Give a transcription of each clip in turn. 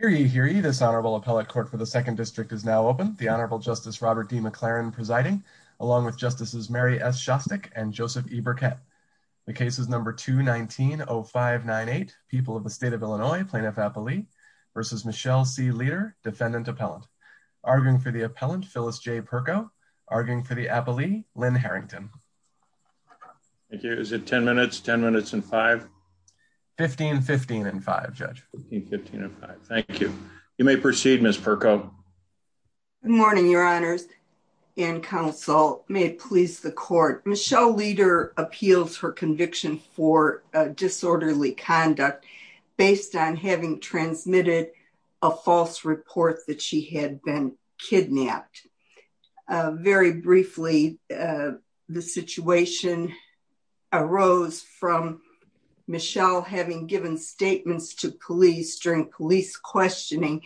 for the second district is now open. The Honorable Justice Robert D. McLaren presiding, along with Justices Mary S. Shostak and Joseph E. Burkett. The case is number 219-0598, People of the State of Illinois, Plaintiff-Appellee v. Michelle C. Leader, Defendant-Appellant. Arguing for the Appellant, Phyllis J. Perko. Arguing for the Appellee, Lynn Harrington. Thank you. Is it 10 minutes? 10 minutes and 5? 15, 15 and 5, Judge. 15, 15 and 5. Thank you. You may proceed, Ms. Perko. The situation arose from Michelle having given statements to police during police questioning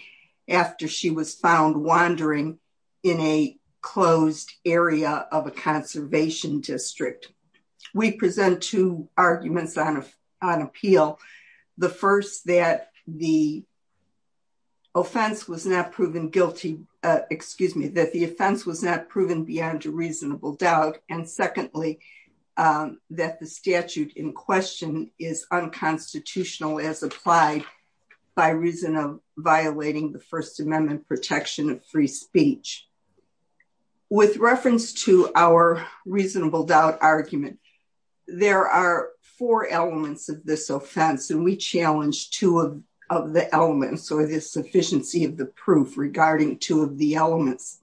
after she was found wandering in a closed area of a conservation district. We present two arguments on appeal. The first, that the offense was not proven guilty, excuse me, that the offense was not proven beyond a reasonable doubt. And secondly, that the statute in question is unconstitutional as applied by reason of violating the First Amendment protection of free speech. With reference to our reasonable doubt argument, there are four elements of this offense and we challenge two of the elements or the sufficiency of the proof regarding two of the elements.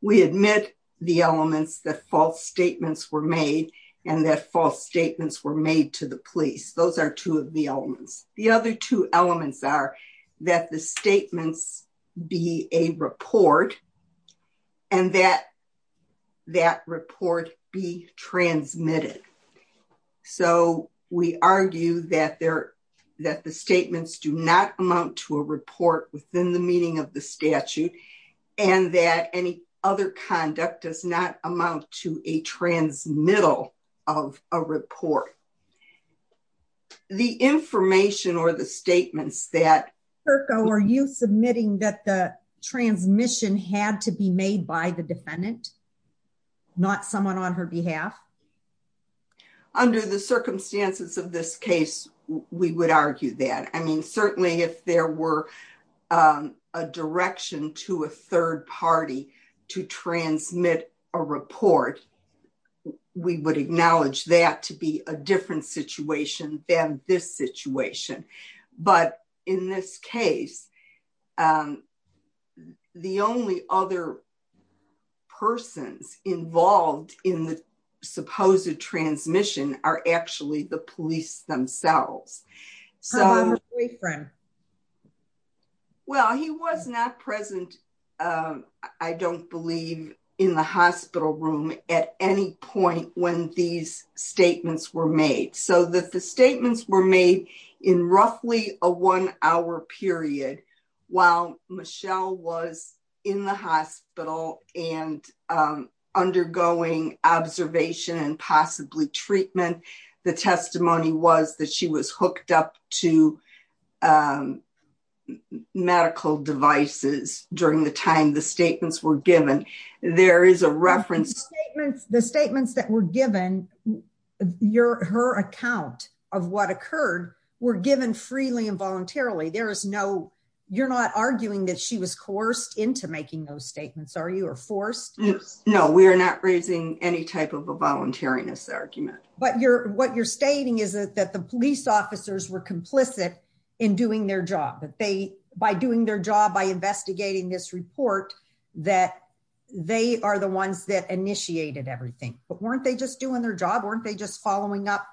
We admit the elements that false statements were made and that false statements were made to the police. Those are two of the elements. The other two elements are that the statements be a report and that that report be transmitted. So we argue that the statements do not amount to a report within the meaning of the statute and that any other conduct does not amount to a transmittal of a report. The information or the statements that... Perko, are you submitting that the transmission had to be made by the defendant, not someone on her behalf? Under the circumstances of this case, we would argue that. I mean, certainly if there were a direction to a third party to transmit a report, we would acknowledge that to be a different situation than this situation. But in this case, the only other persons involved in the supposed transmission are actually the police themselves. Well, he was not present. I don't believe in the hospital room at any point when these statements were made so that the statements were made in roughly a one hour period. While Michelle was in the hospital and undergoing observation and possibly treatment, the testimony was that she was hooked up to medical devices during the time the statements were given. There is a reference... The statements that were given, her account of what occurred, were given freely and voluntarily. There is no... You're not arguing that she was coerced into making those statements, are you, or forced? No, we are not raising any type of a voluntariness argument. But what you're stating is that the police officers were complicit in doing their job. By doing their job, by investigating this report, that they are the ones that initiated everything. But weren't they just doing their job? Weren't they just following up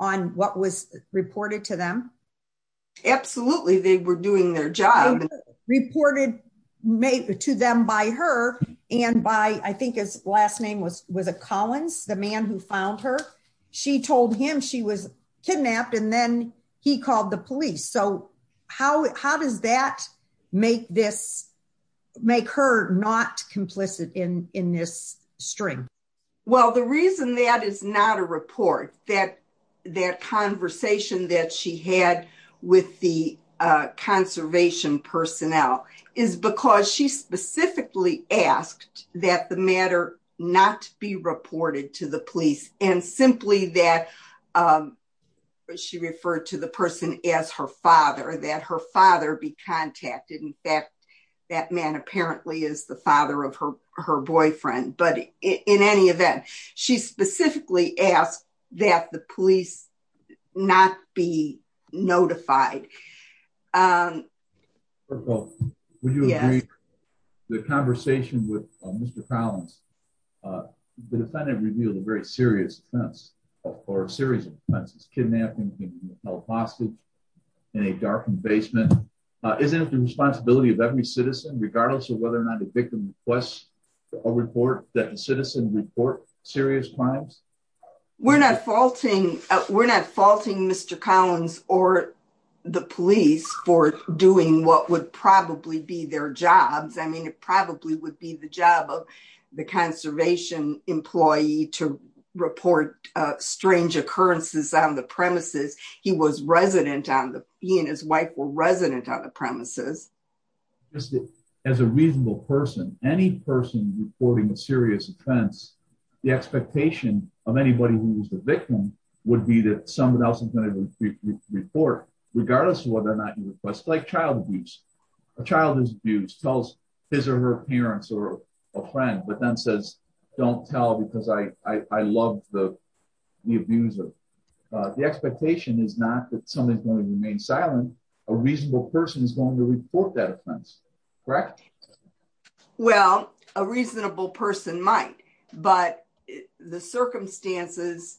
on what was reported to them? Absolutely, they were doing their job. Reported to them by her and by, I think his last name was a Collins, the man who found her. She told him she was kidnapped and then he called the police. So how does that make her not complicit in this string? Well, the reason that is not a report, that conversation that she had with the conservation personnel is because she specifically asked that the matter not be reported to the police and simply that she referred to the person as her father, that her father be contacted. In fact, that man apparently is the father of her boyfriend. But in any event, she specifically asked that the police not be notified. Would you agree that the conversation with Mr. Collins, the defendant revealed a very serious offense or a series of offenses, kidnapping, being held hostage in a darkened basement. Isn't it the responsibility of every citizen, regardless of whether or not the victim requests a report, that the citizen report serious crimes? We're not faulting Mr. Collins or the police for doing what would probably be their jobs. I mean, it probably would be the job of the conservation employee to report strange occurrences on the premises. He was resident on the, he and his wife were resident on the premises. As a reasonable person, any person reporting a serious offense, the expectation of anybody who is the victim would be that somebody else is going to report, regardless of whether or not you request, like child abuse. A child is abused, tells his or her parents or a friend, but then says, don't tell because I love the abuser. The expectation is not that somebody is going to remain silent. A reasonable person is going to report that offense, correct? Well, a reasonable person might, but the circumstances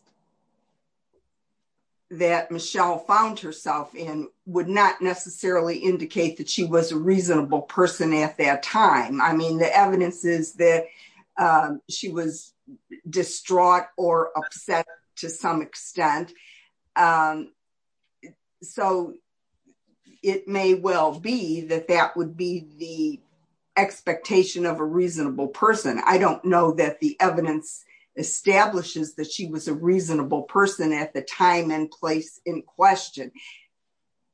that Michelle found herself in would not necessarily indicate that she was a reasonable person at that time. I mean, the evidence is that she was distraught or upset to some extent. So it may well be that that would be the expectation of a reasonable person. I don't know that the evidence establishes that she was a reasonable person at the time and place in question.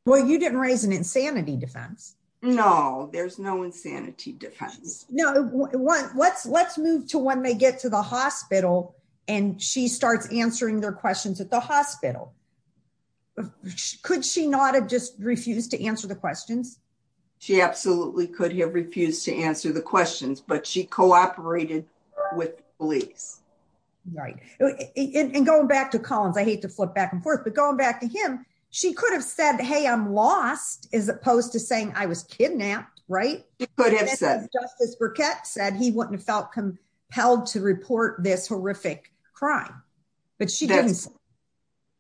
Well, you didn't raise an insanity defense. No, there's no insanity defense. Let's move to when they get to the hospital and she starts answering their questions at the hospital. Could she not have just refused to answer the questions? She absolutely could have refused to answer the questions, but she cooperated with police. Right. And going back to Collins, I hate to flip back and forth, but going back to him, she could have said, hey, I'm lost, as opposed to saying I was kidnapped, right? Justice Burkett said he wouldn't have felt compelled to report this horrific crime, but she didn't.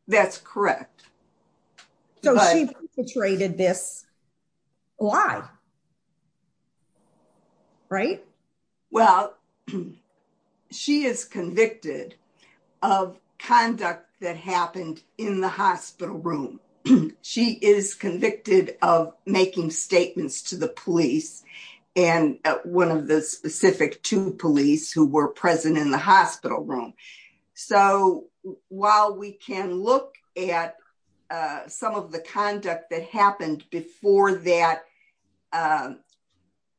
That's correct. So she perpetrated this lie, right? Well, she is convicted of conduct that happened in the hospital room. She is convicted of making statements to the police and one of the specific two police who were present in the hospital room. So while we can look at some of the conduct that happened before that,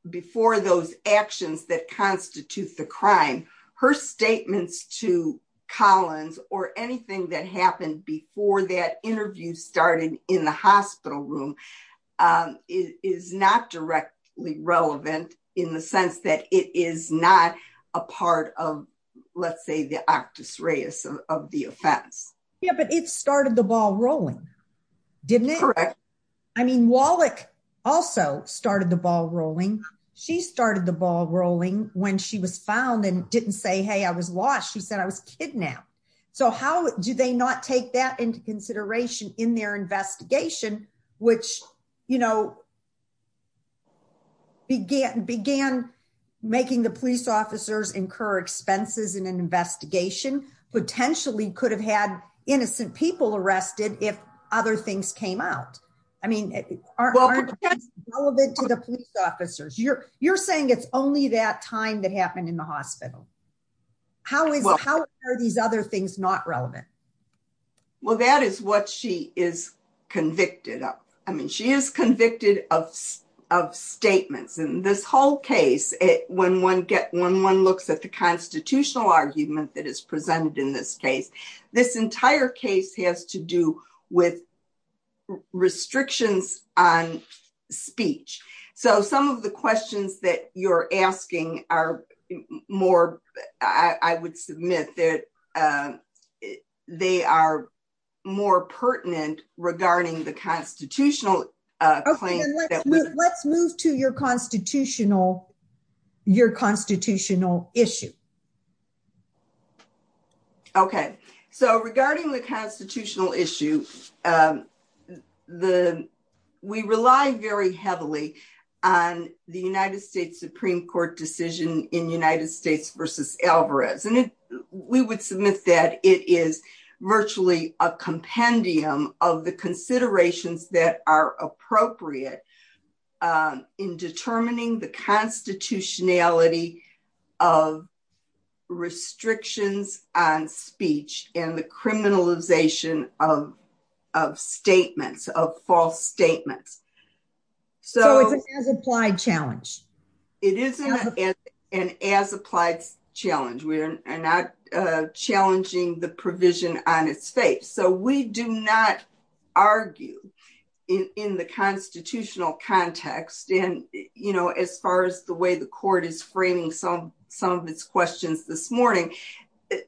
before those actions that constitute the crime, her statements to Collins or anything that happened before that interview started in the hospital room is not directly relevant in the sense that it is not a part of, let's say, the actus reus of the offense. Yeah, but it started the ball rolling, didn't it? Correct. I mean, Wallach also started the ball rolling. She started the ball rolling when she was found and didn't say, hey, I was lost. She said I was kidnapped. So how do they not take that into consideration in their investigation, which began making the police officers incur expenses in an investigation, potentially could have had innocent people arrested if other things came out? I mean, aren't things relevant to the police officers? You're saying it's only that time that happened in the hospital. How are these other things not relevant? Well, that is what she is convicted of. I mean, she is convicted of statements and this whole case, when one looks at the constitutional argument that is presented in this case, this entire case has to do with restrictions on speech. So some of the questions that you're asking are more, I would submit that they are more pertinent regarding the constitutional claim. Let's move to your constitutional issue. OK, so regarding the constitutional issue, we rely very heavily on the United States Supreme Court decision in United States versus Alvarez. And we would submit that it is virtually a compendium of the considerations that are appropriate in determining the constitutionality of restrictions on speech and the criminalization of statements, of false statements. So it's an as-applied challenge. It is an as-applied challenge. We are not challenging the provision on its face. So we do not argue in the constitutional context. And, you know, as far as the way the court is framing some of its questions this morning,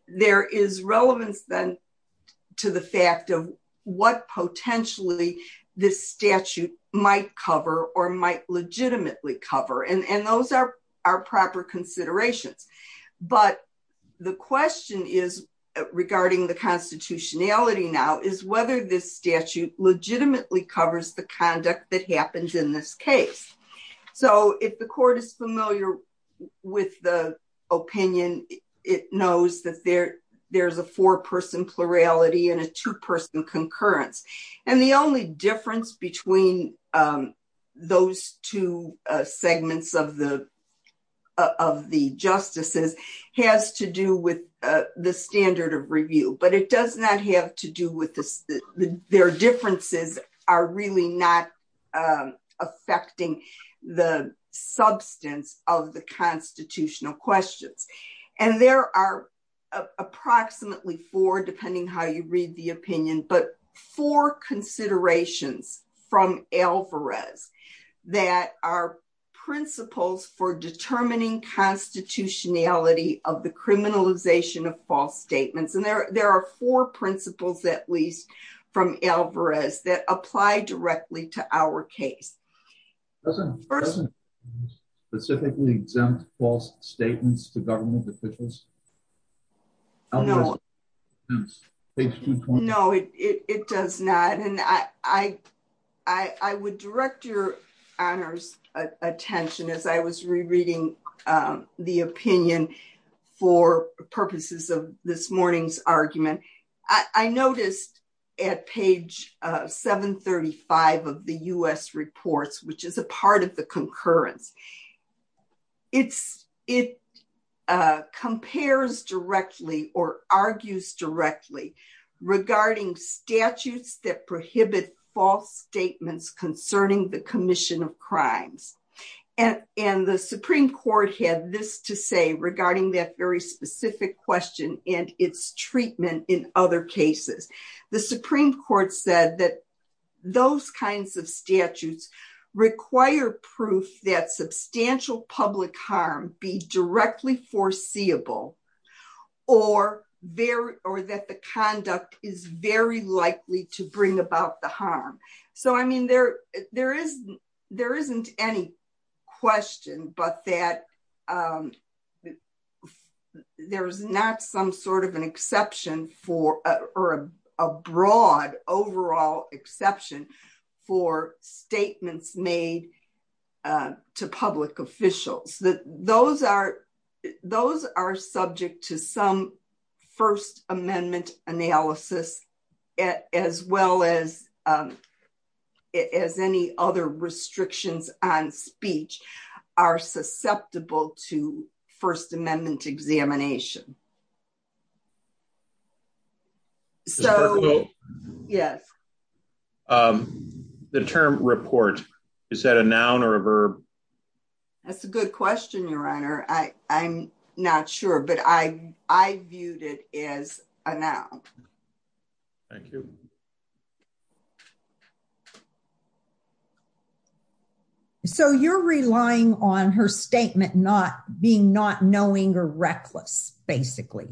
there is relevance then to the fact of what potentially this statute might cover or might legitimately cover. And those are proper considerations. But the question is, regarding the constitutionality now, is whether this statute legitimately covers the conduct that happens in this case. So if the court is familiar with the opinion, it knows that there's a four-person plurality and a two-person concurrence. And the only difference between those two segments of the justices has to do with the standard of review. But it does not have to do with this. Their differences are really not affecting the substance of the constitutional questions. And there are approximately four, depending how you read the opinion, but four considerations from Alvarez that are principles for determining constitutionality of the criminalization of false statements. And there are four principles, at least, from Alvarez that apply directly to our case. Does it specifically exempt false statements to government officials? No, it does not. And I would direct your honors attention as I was rereading the opinion for purposes of this morning's argument. And I noticed at page 735 of the U.S. reports, which is a part of the concurrence, it compares directly or argues directly regarding statutes that prohibit false statements concerning the commission of crimes. And the Supreme Court had this to say regarding that very specific question and its treatment in other cases. The Supreme Court said that those kinds of statutes require proof that substantial public harm be directly foreseeable or that the conduct is very likely to bring about the harm. So, I mean, there isn't any question but that there's not some sort of an exception for or a broad overall exception for statements made to public officials. Those are subject to some First Amendment analysis, as well as any other restrictions on speech are susceptible to First Amendment examination. The term report, is that a noun or a verb? That's a good question, Your Honor. I'm not sure, but I viewed it as a noun. Thank you. So you're relying on her statement not being not knowing or reckless, basically.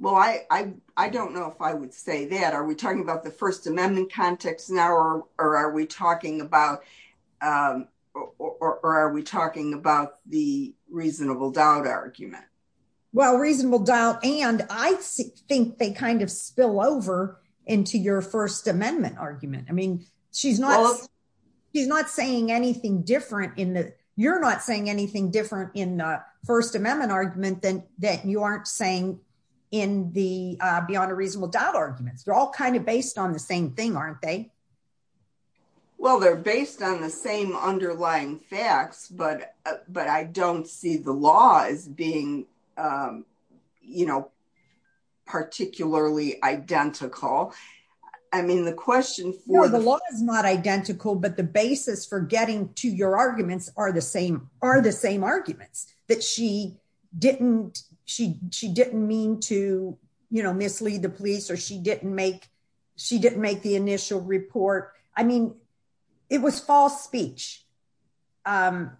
Well, I don't know if I would say that. Are we talking about the First Amendment context now or are we talking about the reasonable doubt argument? Well, reasonable doubt and I think they kind of spill over into your First Amendment argument. I mean, she's not saying anything different. You're not saying anything different in the First Amendment argument than that you aren't saying in the beyond a reasonable doubt arguments. They're all kind of based on the same thing, aren't they? Well, they're based on the same underlying facts, but I don't see the law as being, you know, particularly identical. I mean, the question for... are the same arguments that she didn't mean to, you know, mislead the police or she didn't make the initial report. I mean, it was false speech. And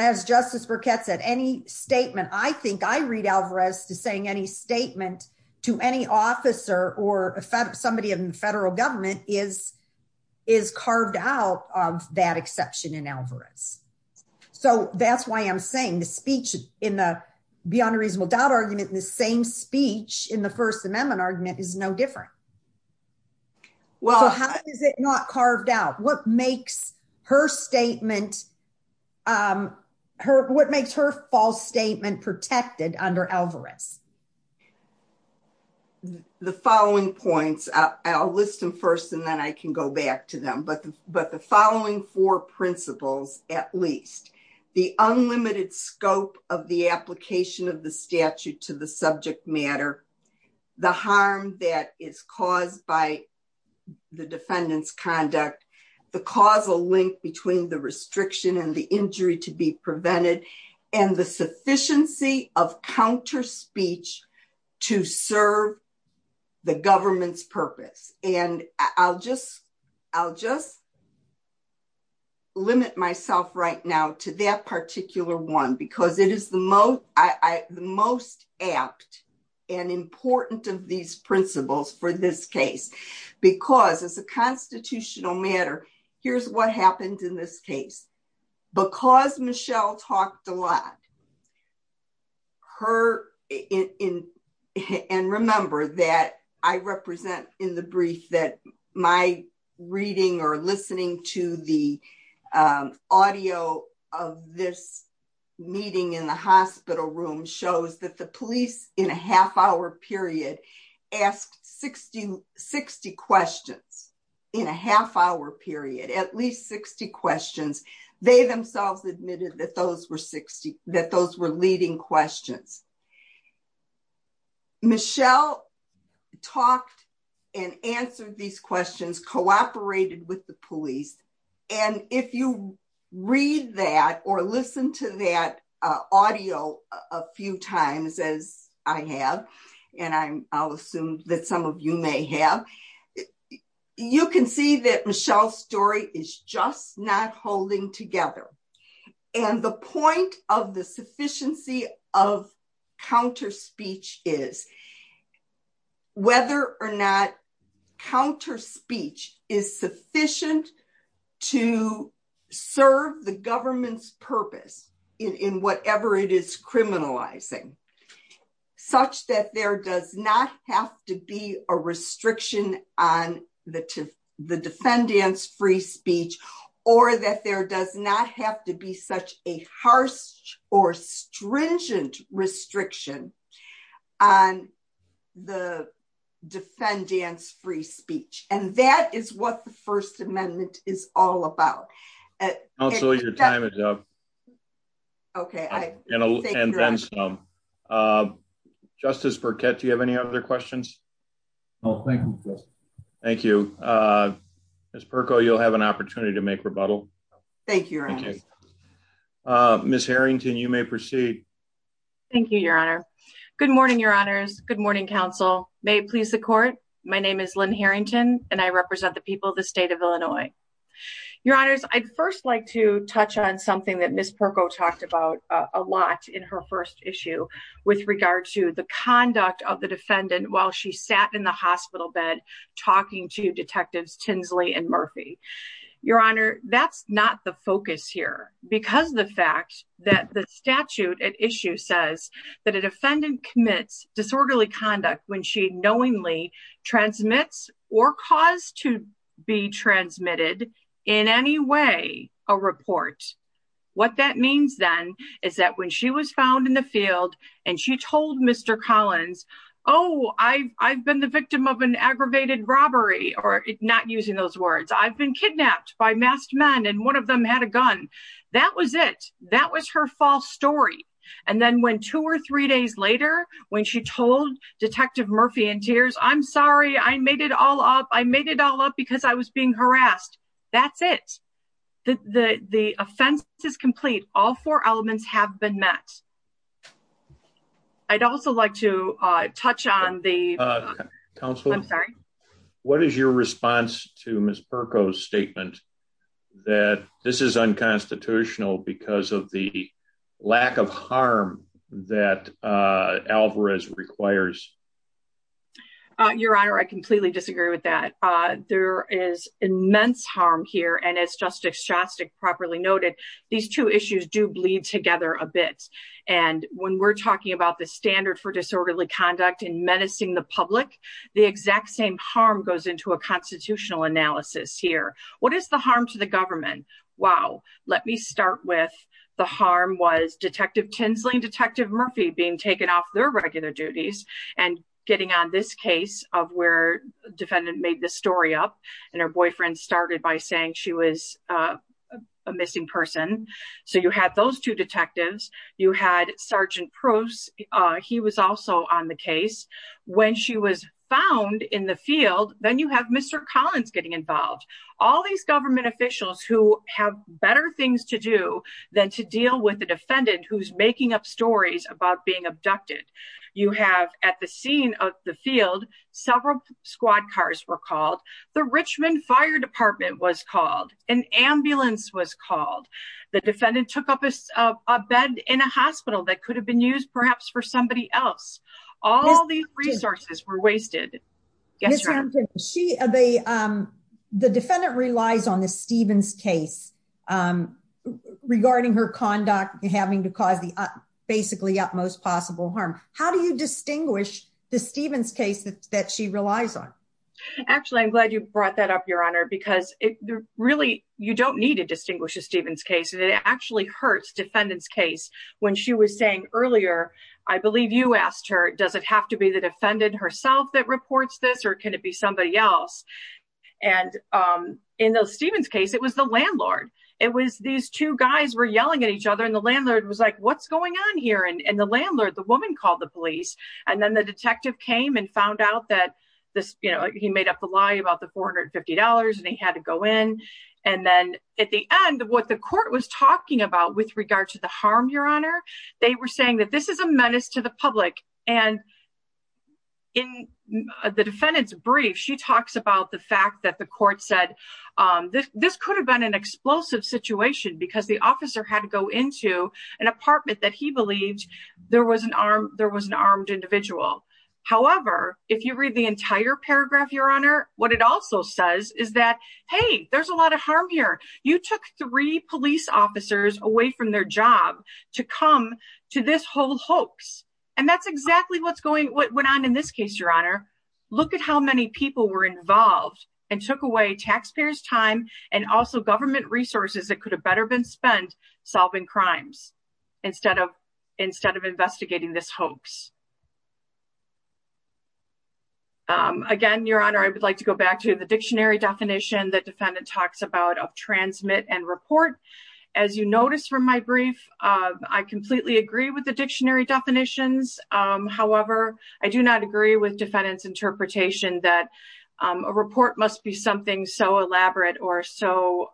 as Justice Burkett said, any statement, I think I read Alvarez to saying any statement to any officer or somebody in the federal government is carved out of that exception in Alvarez. So that's why I'm saying the speech in the beyond a reasonable doubt argument, the same speech in the First Amendment argument is no different. Well, how is it not carved out? What makes her statement, what makes her false statement protected under Alvarez? The following points, I'll list them first, and then I can go back to them. But the following four principles, at least the unlimited scope of the application of the statute to the subject matter, the harm that is caused by the defendant's conduct, the causal link between the restriction and the injury to be prevented, and the sufficiency of counter speech to serve the government's purpose. And I'll just limit myself right now to that particular one, because it is the most apt and important of these principles for this case. Because as a constitutional matter, here's what happened in this case. Because Michelle talked a lot, and remember that I represent in the brief that my reading or listening to the audio of this meeting in the hospital room shows that the police in a half hour period asked 60 questions in a half hour period, at least 60 questions. They themselves admitted that those were 60, that those were leading questions. Michelle talked and answered these questions, cooperated with the police. And if you read that or listen to that audio, a few times as I have, and I'll assume that some of you may have, you can see that Michelle's story is just not holding together. And the point of the sufficiency of counter speech is whether or not counter speech is sufficient to serve the government's purpose in whatever it is criminalizing, such that there does not have to be a restriction on the defendant's free speech, or that there does not have to be such a harsh or stringent restriction on the defendant's free speech. And that is what the First Amendment is all about. Counselor, your time is up. Okay. Justice Burkett, do you have any other questions? No, thank you. Thank you. Ms. Perko, you'll have an opportunity to make rebuttal. Thank you, Your Honor. Ms. Harrington, you may proceed. Thank you, Your Honor. Good morning, Your Honors. Good morning, counsel. May it please the court. My name is Lynn Harrington, and I represent the people of the state of Illinois. Your Honors, I'd first like to touch on something that Ms. Perko talked about a lot in her first issue with regard to the conduct of the defendant while she sat in the hospital bed, talking to Detectives Tinsley and Murphy. Your Honor, that's not the focus here, because the fact that the statute at issue says that a defendant commits disorderly conduct when she knowingly transmits or caused to be transmitted in any way a report. What that means then is that when she was found in the field and she told Mr. Collins, oh, I've been the victim of an aggravated robbery, or not using those words, I've been kidnapped by masked men and one of them had a gun. That was it. That was her false story. And then when two or three days later, when she told Detective Murphy in tears, I'm sorry, I made it all up. I made it all up because I was being harassed. That's it. The offense is complete. All four elements have been met. I'd also like to touch on the council. I'm sorry. What is your response to Ms. Perko's statement that this is unconstitutional because of the lack of harm that Alvarez requires? Your Honor, I completely disagree with that. There is immense harm here. And as Justice Shostak properly noted, these two issues do bleed together a bit. And when we're talking about the standard for disorderly conduct and menacing the public, the exact same harm goes into a constitutional analysis here. What is the harm to the government? Wow. Let me start with the harm was Detective Tinsley and Detective Murphy being taken off their regular duties and getting on this case of where the defendant made this story up. And her boyfriend started by saying she was a missing person. So you had those two detectives. You had Sergeant Proce. He was also on the case. When she was found in the field, then you have Mr. Collins getting involved. All these government officials who have better things to do than to deal with the defendant who's making up stories about being abducted. You have at the scene of the field, several squad cars were called. The Richmond Fire Department was called. An ambulance was called. The defendant took up a bed in a hospital that could have been used perhaps for somebody else. All these resources were wasted. The defendant relies on the Stevens case regarding her conduct, having to cause the basically utmost possible harm. How do you distinguish the Stevens case that she relies on? Actually, I'm glad you brought that up, Your Honor, because you don't need to distinguish the Stevens case. It actually hurts the defendant's case. When she was saying earlier, I believe you asked her, does it have to be the defendant herself that reports this or can it be somebody else? In the Stevens case, it was the landlord. These two guys were yelling at each other and the landlord was like, what's going on here? The landlord, the woman, called the police. Then the detective came and found out that he made up a lie about the $450 and he had to go in. At the end, what the court was talking about with regard to the harm, Your Honor, they were saying that this is a menace to the public. In the defendant's brief, she talks about the fact that the court said this could have been an explosive situation because the officer had to go into an apartment that he believed there was an armed individual. However, if you read the entire paragraph, Your Honor, what it also says is that, hey, there's a lot of harm here. You took three police officers away from their job to come to this whole hoax. That's exactly what went on in this case, Your Honor. Look at how many people were involved and took away taxpayers' time and also government resources that could have better been spent solving crimes instead of investigating this hoax. Again, Your Honor, I would like to go back to the dictionary definition that defendant talks about of transmit and report. As you notice from my brief, I completely agree with the dictionary definitions. However, I do not agree with defendant's interpretation that a report must be something so elaborate or so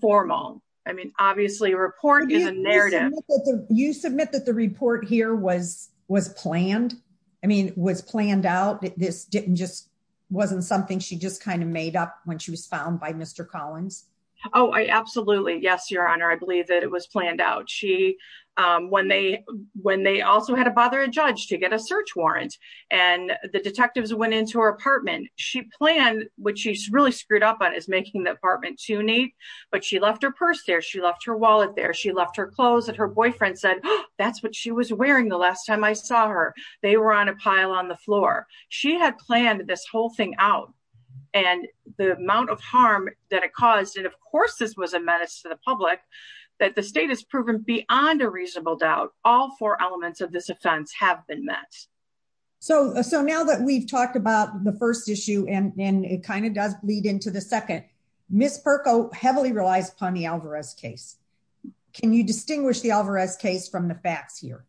formal. I mean, obviously, a report is a narrative. You submit that the report here was planned. I mean, it was planned out. This just wasn't something she just kind of made up when she was found by Mr. Collins. Oh, absolutely. Yes, Your Honor, I believe that it was planned out. When they also had to bother a judge to get a search warrant and the detectives went into her apartment, she planned what she's really screwed up on is making the apartment too neat. But she left her purse there. She left her wallet there. She left her clothes that her boyfriend said, that's what she was wearing the last time I saw her. They were on a pile on the floor. She had planned this whole thing out and the amount of harm that it caused. And of course, this was a menace to the public that the state has proven beyond a reasonable doubt. All four elements of this offense have been met. So now that we've talked about the first issue and it kind of does lead into the second, Ms. Perko heavily relies upon the Alvarez case. Can you distinguish the Alvarez case from the facts here?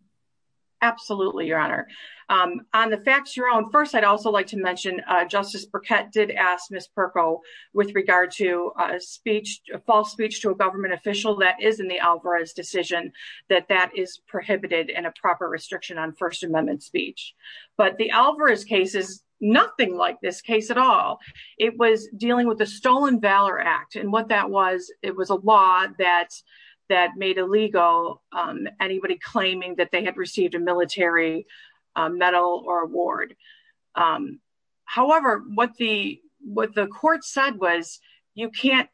Absolutely, Your Honor. On the facts, Your Honor, first, I'd also like to mention Justice Burkett did ask Ms. Perko with regard to a speech, a false speech to a government official that is in the Alvarez decision, that that is prohibited and a proper restriction on First Amendment speech. But the Alvarez case is nothing like this case at all. It was dealing with the Stolen Valor Act and what that was, it was a law that made illegal anybody claiming that they had received a military medal or award. However, what the court said was, you can't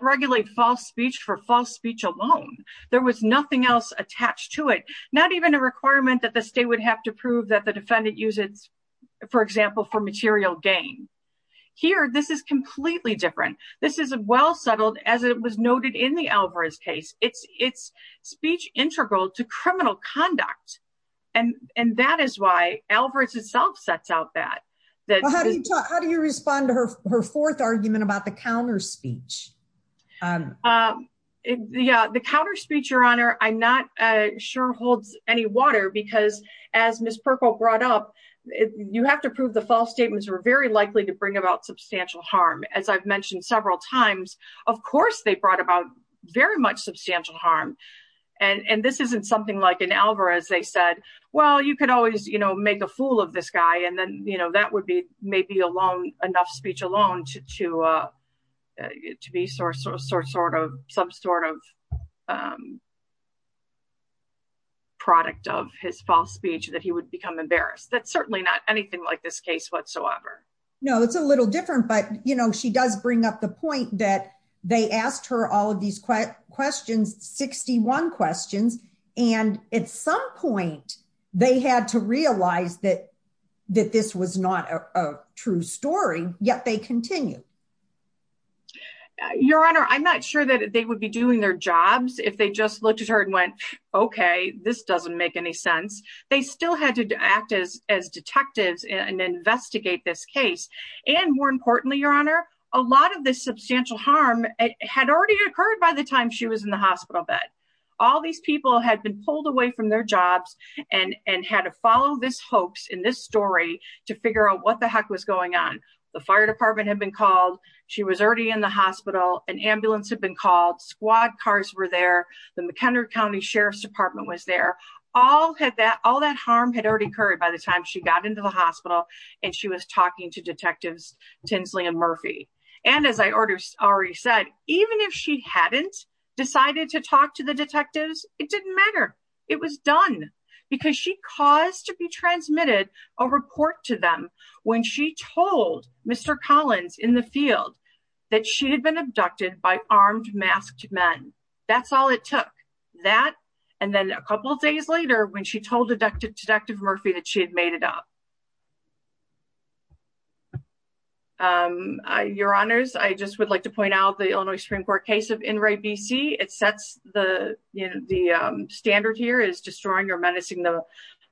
regulate false speech for false speech alone. There was nothing else attached to it. Not even a requirement that the state would have to prove that the defendant uses, for example, for material gain. Here, this is completely different. This is a well settled, as it was noted in the Alvarez case, it's speech integral to criminal conduct. And that is why Alvarez itself sets out that. How do you respond to her fourth argument about the counter speech? Yeah, the counter speech, Your Honor, I'm not sure holds any water because as Ms. Perko brought up, you have to prove the false statements are very likely to bring about substantial harm. As I've mentioned several times, of course, they brought about very much substantial harm. And this isn't something like an Alvarez, they said, well, you can always make a fool of this guy. And then that would be maybe enough speech alone to be some sort of product of his false speech that he would become embarrassed. That's certainly not anything like this case whatsoever. No, it's a little different. But, you know, she does bring up the point that they asked her all of these questions, 61 questions. And at some point, they had to realize that this was not a true story, yet they continue. Your Honor, I'm not sure that they would be doing their jobs if they just looked at her and went, okay, this doesn't make any sense. They still had to act as detectives and investigate this case. And more importantly, Your Honor, a lot of this substantial harm had already occurred by the time she was in the hospital bed. All these people had been pulled away from their jobs and had to follow this hoax in this story to figure out what the heck was going on. The fire department had been called. She was already in the hospital. An ambulance had been called. Squad cars were there. The McHenry County Sheriff's Department was there. All that harm had already occurred by the time she got into the hospital and she was talking to Detectives Tinsley and Murphy. And as I already said, even if she hadn't decided to talk to the detectives, it didn't matter. It was done because she caused to be transmitted a report to them when she told Mr. Collins in the field that she had been abducted by armed, masked men. That's all it took. That and then a couple of days later when she told Detective Murphy that she had made it up. Your Honors, I just would like to point out the Illinois Supreme Court case of Inouye, B.C. It sets the standard here is destroying or menacing the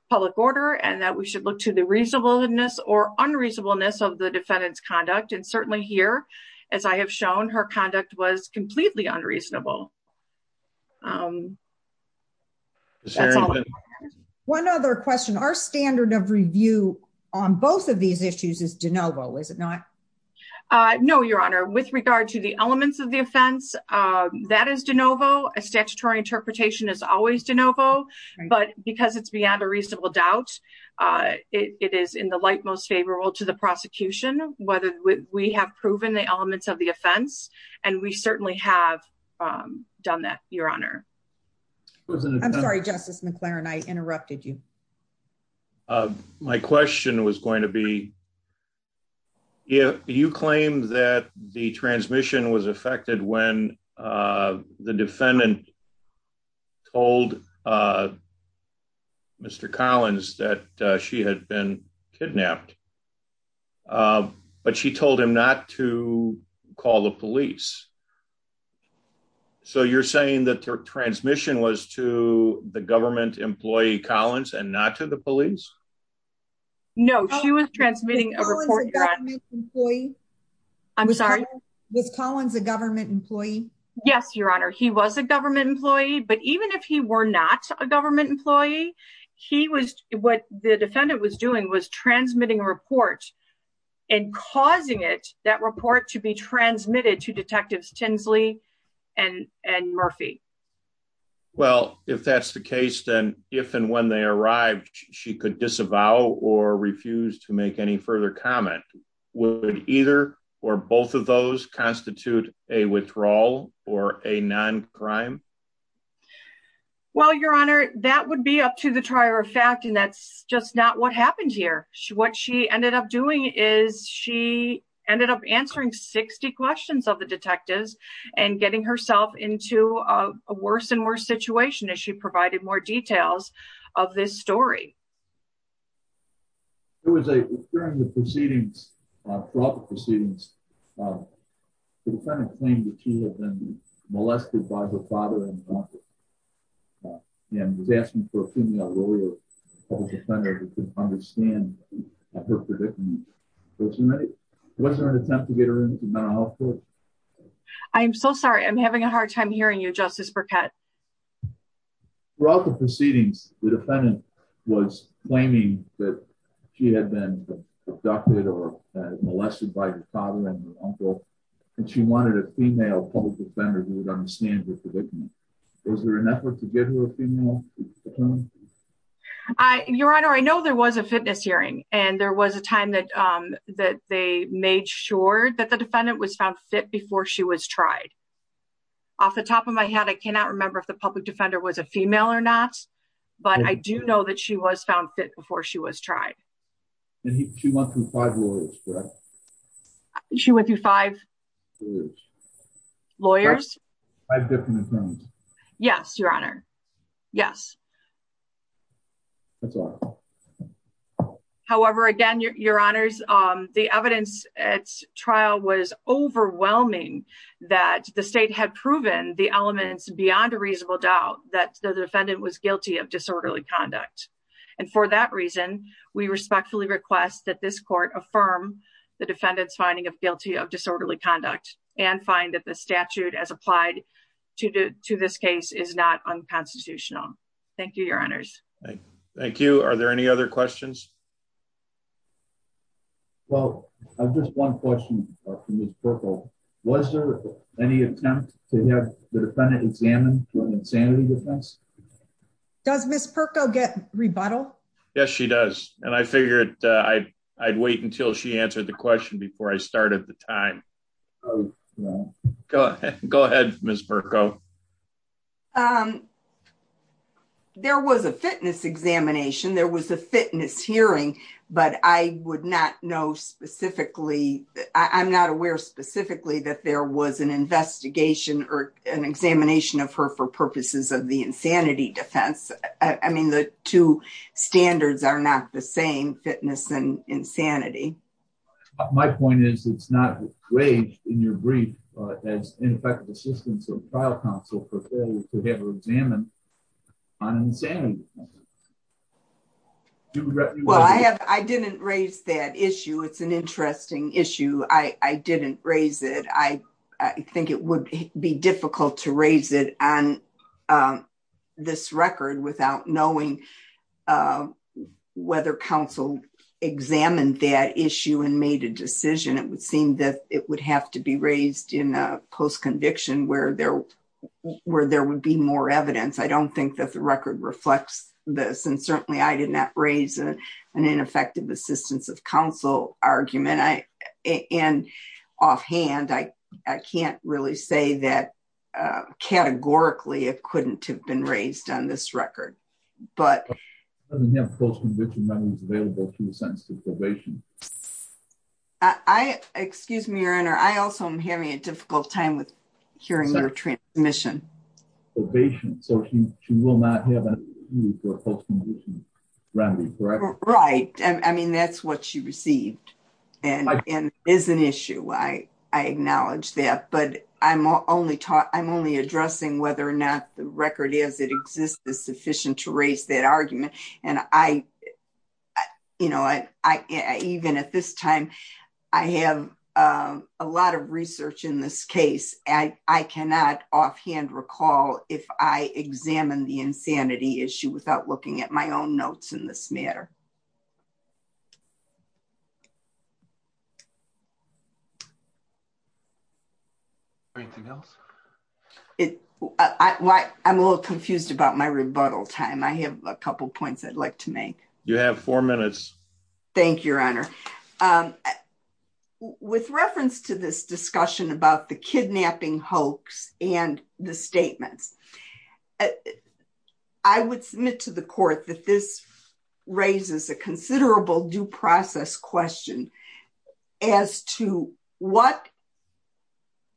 public order and that we should look to the reasonableness or unreasonableness of the defendant's conduct. And certainly here, as I have shown, her conduct was completely unreasonable. That's all. One other question. Our standard of review on both of these issues is de novo, is it not? No, Your Honor. With regard to the elements of the offense, that is de novo. A statutory interpretation is always de novo. But because it's beyond a reasonable doubt, it is in the light most favorable to the prosecution, whether we have proven the elements of the offense. And we certainly have done that, Your Honor. I'm sorry, Justice McLaren, I interrupted you. My question was going to be. Yeah, you claim that the transmission was affected when the defendant told Mr. Collins that she had been kidnapped. But she told him not to call the police. So you're saying that her transmission was to the government employee Collins and not to the police? No, she was transmitting a report. I'm sorry. Was Collins a government employee? Yes, Your Honor. He was a government employee. But even if he were not a government employee, what the defendant was doing was transmitting a report and causing that report to be transmitted to Detectives Tinsley and Murphy. Well, if that's the case, then if and when they arrived, she could disavow or refuse to make any further comment. Would either or both of those constitute a withdrawal or a non-crime? Well, Your Honor, that would be up to the trier of fact, and that's just not what happened here. What she ended up doing is she ended up answering 60 questions of the detectives and getting herself into a worse and worse situation as she provided more details of this story. During the proceedings, throughout the proceedings, the defendant claimed that she had been molested by her father and grandfather. And was asking for a female lawyer or public defender to understand her predicament. Was there an attempt to get her into mental health court? I'm so sorry. I'm having a hard time hearing you, Justice Burkett. Throughout the proceedings, the defendant was claiming that she had been abducted or molested by her father and her uncle. And she wanted a female public defender who would understand her predicament. Was there an effort to get her a female attorney? Your Honor, I know there was a fitness hearing and there was a time that they made sure that the defendant was found fit before she was tried. Off the top of my head, I cannot remember if the public defender was a female or not, but I do know that she was found fit before she was tried. And she went through five lawyers, correct? She went through five lawyers? Five different attorneys. Yes, Your Honor. Yes. That's all. However, again, Your Honors, the evidence at trial was overwhelming that the state had proven the elements beyond a reasonable doubt that the defendant was guilty of disorderly conduct. And for that reason, we respectfully request that this court affirm the defendant's finding of guilty of disorderly conduct and find that the statute as applied to this case is not unconstitutional. Thank you, Your Honors. Are there any other questions? Well, I have just one question for Ms. Perko. Was there any attempt to have the defendant examined for an insanity defense? Does Ms. Perko get rebuttal? Yes, she does. And I figured I'd wait until she answered the question before I started the time. Go ahead, Ms. Perko. There was a fitness examination. There was a fitness hearing, but I would not know specifically. I'm not aware specifically that there was an investigation or an examination of her for purposes of the insanity defense. I mean, the two standards are not the same, fitness and insanity. My point is, it's not raised in your brief as ineffective assistance or trial counsel for failure to have her examined on insanity defense. Well, I didn't raise that issue. It's an interesting issue. I didn't raise it. I think it would be difficult to raise it on this record without knowing whether counsel examined that issue and made a decision. It would seem that it would have to be raised in a post-conviction where there would be more evidence. I don't think that the record reflects this, and certainly I did not raise an ineffective assistance of counsel argument. And offhand, I can't really say that categorically it couldn't have been raised on this record. She doesn't have post-conviction remedies available to the sentencing probation. Excuse me, Your Honor, I also am having a difficult time with hearing your transmission. Probation, so she will not have a need for a post-conviction remedy, correct? Right. I mean, that's what she received and is an issue. I acknowledge that. But I'm only addressing whether or not the record as it exists is sufficient to raise that argument. And I, you know, I even at this time, I have a lot of research in this case. I cannot offhand recall if I examine the insanity issue without looking at my own notes in this matter. Anything else? I'm a little confused about my rebuttal time. I have a couple of points I'd like to make. You have four minutes. Thank you, Your Honor. With reference to this discussion about the kidnapping hoax and the statements, I would submit to the court that this raises a considerable due process question as to what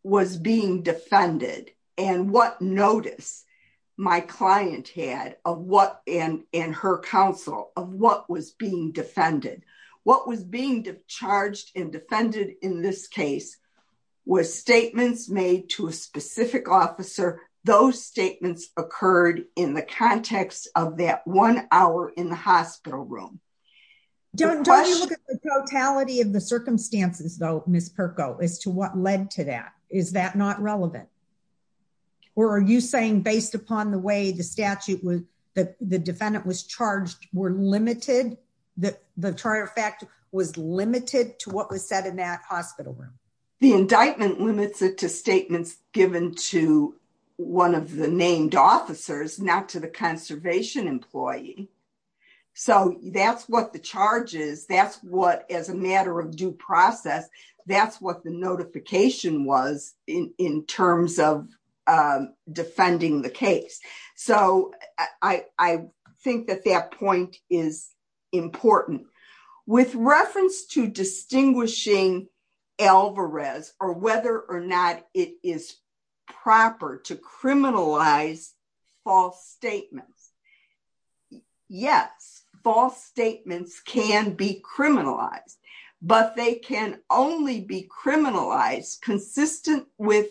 was being defended and what notice my client had of what and her counsel of what was being defended. What was being charged and defended in this case was statements made to a specific officer, and those statements occurred in the context of that one hour in the hospital room. Don't you look at the totality of the circumstances, though, Ms. Perko, as to what led to that? Is that not relevant? Or are you saying based upon the way the statute was, the defendant was charged were limited, the charge of fact was limited to what was said in that hospital room? The indictment limits it to statements given to one of the named officers, not to the conservation employee. So that's what the charges, that's what as a matter of due process, that's what the notification was in terms of defending the case. So I think that that point is important. With reference to distinguishing Alvarez or whether or not it is proper to criminalize false statements. Yes, false statements can be criminalized, but they can only be criminalized consistent with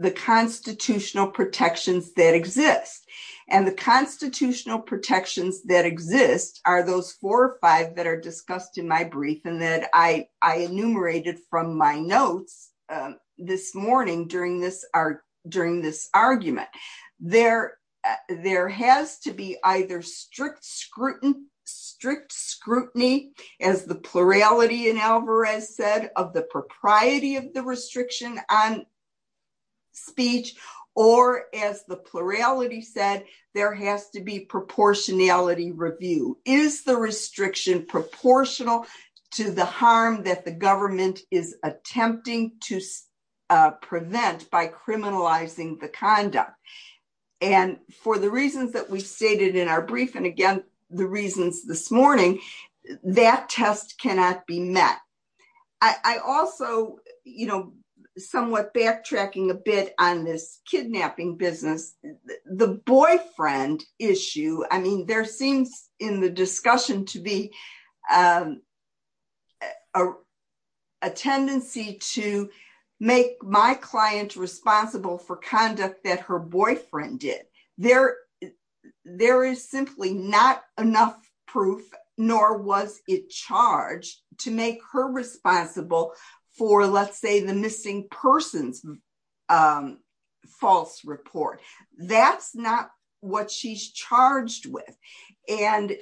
the constitutional protections that exist. And the constitutional protections that exist are those four or five that are discussed in my brief and that I enumerated from my notes this morning during this argument. There has to be either strict scrutiny, as the plurality in Alvarez said, of the propriety of the restriction on speech, or as the plurality said, there has to be proportionality review. Is the restriction proportional to the harm that the government is attempting to prevent by criminalizing the conduct? And for the reasons that we stated in our brief, and again, the reasons this morning, that test cannot be met. I also, you know, somewhat backtracking a bit on this kidnapping business, the boyfriend issue. I mean, there seems in the discussion to be a tendency to make my client responsible for conduct that her boyfriend did. There is simply not enough proof, nor was it charged, to make her responsible for, let's say, the missing persons false report. That's not what she's charged with. And,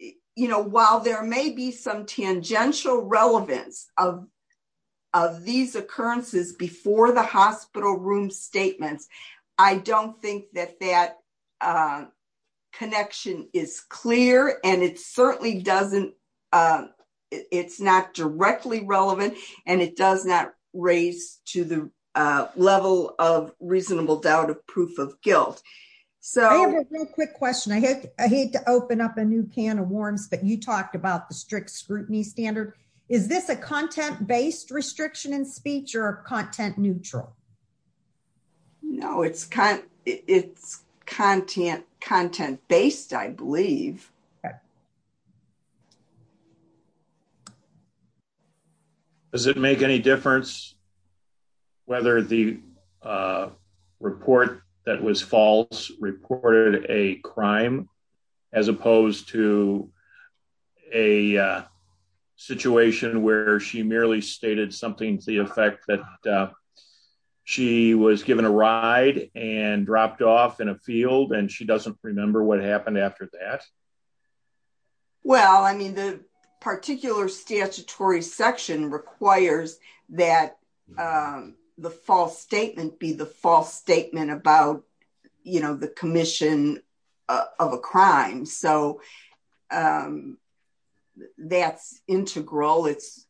you know, while there may be some tangential relevance of these occurrences before the hospital room statements, I don't think that that connection is clear. And it certainly doesn't, it's not directly relevant, and it does not raise to the level of reasonable doubt of proof of guilt. I have a real quick question. I hate to open up a new can of worms, but you talked about the strict scrutiny standard. Is this a content-based restriction in speech or content neutral? No, it's content-based, I believe. Does it make any difference whether the report that was false reported a crime, as opposed to a situation where she merely stated something to the effect that she was given a ride and dropped off in a field and she doesn't remember what happened after that? Well, I mean, the particular statutory section requires that the false statement be the false statement about, you know, the commission of a crime. So that's integral. It's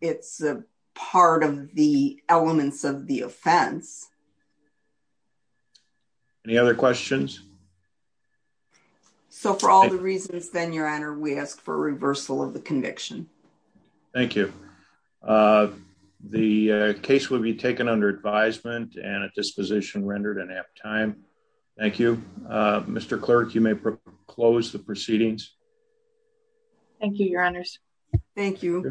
part of the elements of the offense. Any other questions? So for all the reasons, then, Your Honor, we ask for a reversal of the conviction. Thank you. The case will be taken under advisement and at disposition rendered in apt time. Thank you. Mr. Clerk, you may close the proceedings. Thank you, Your Honors. Thank you.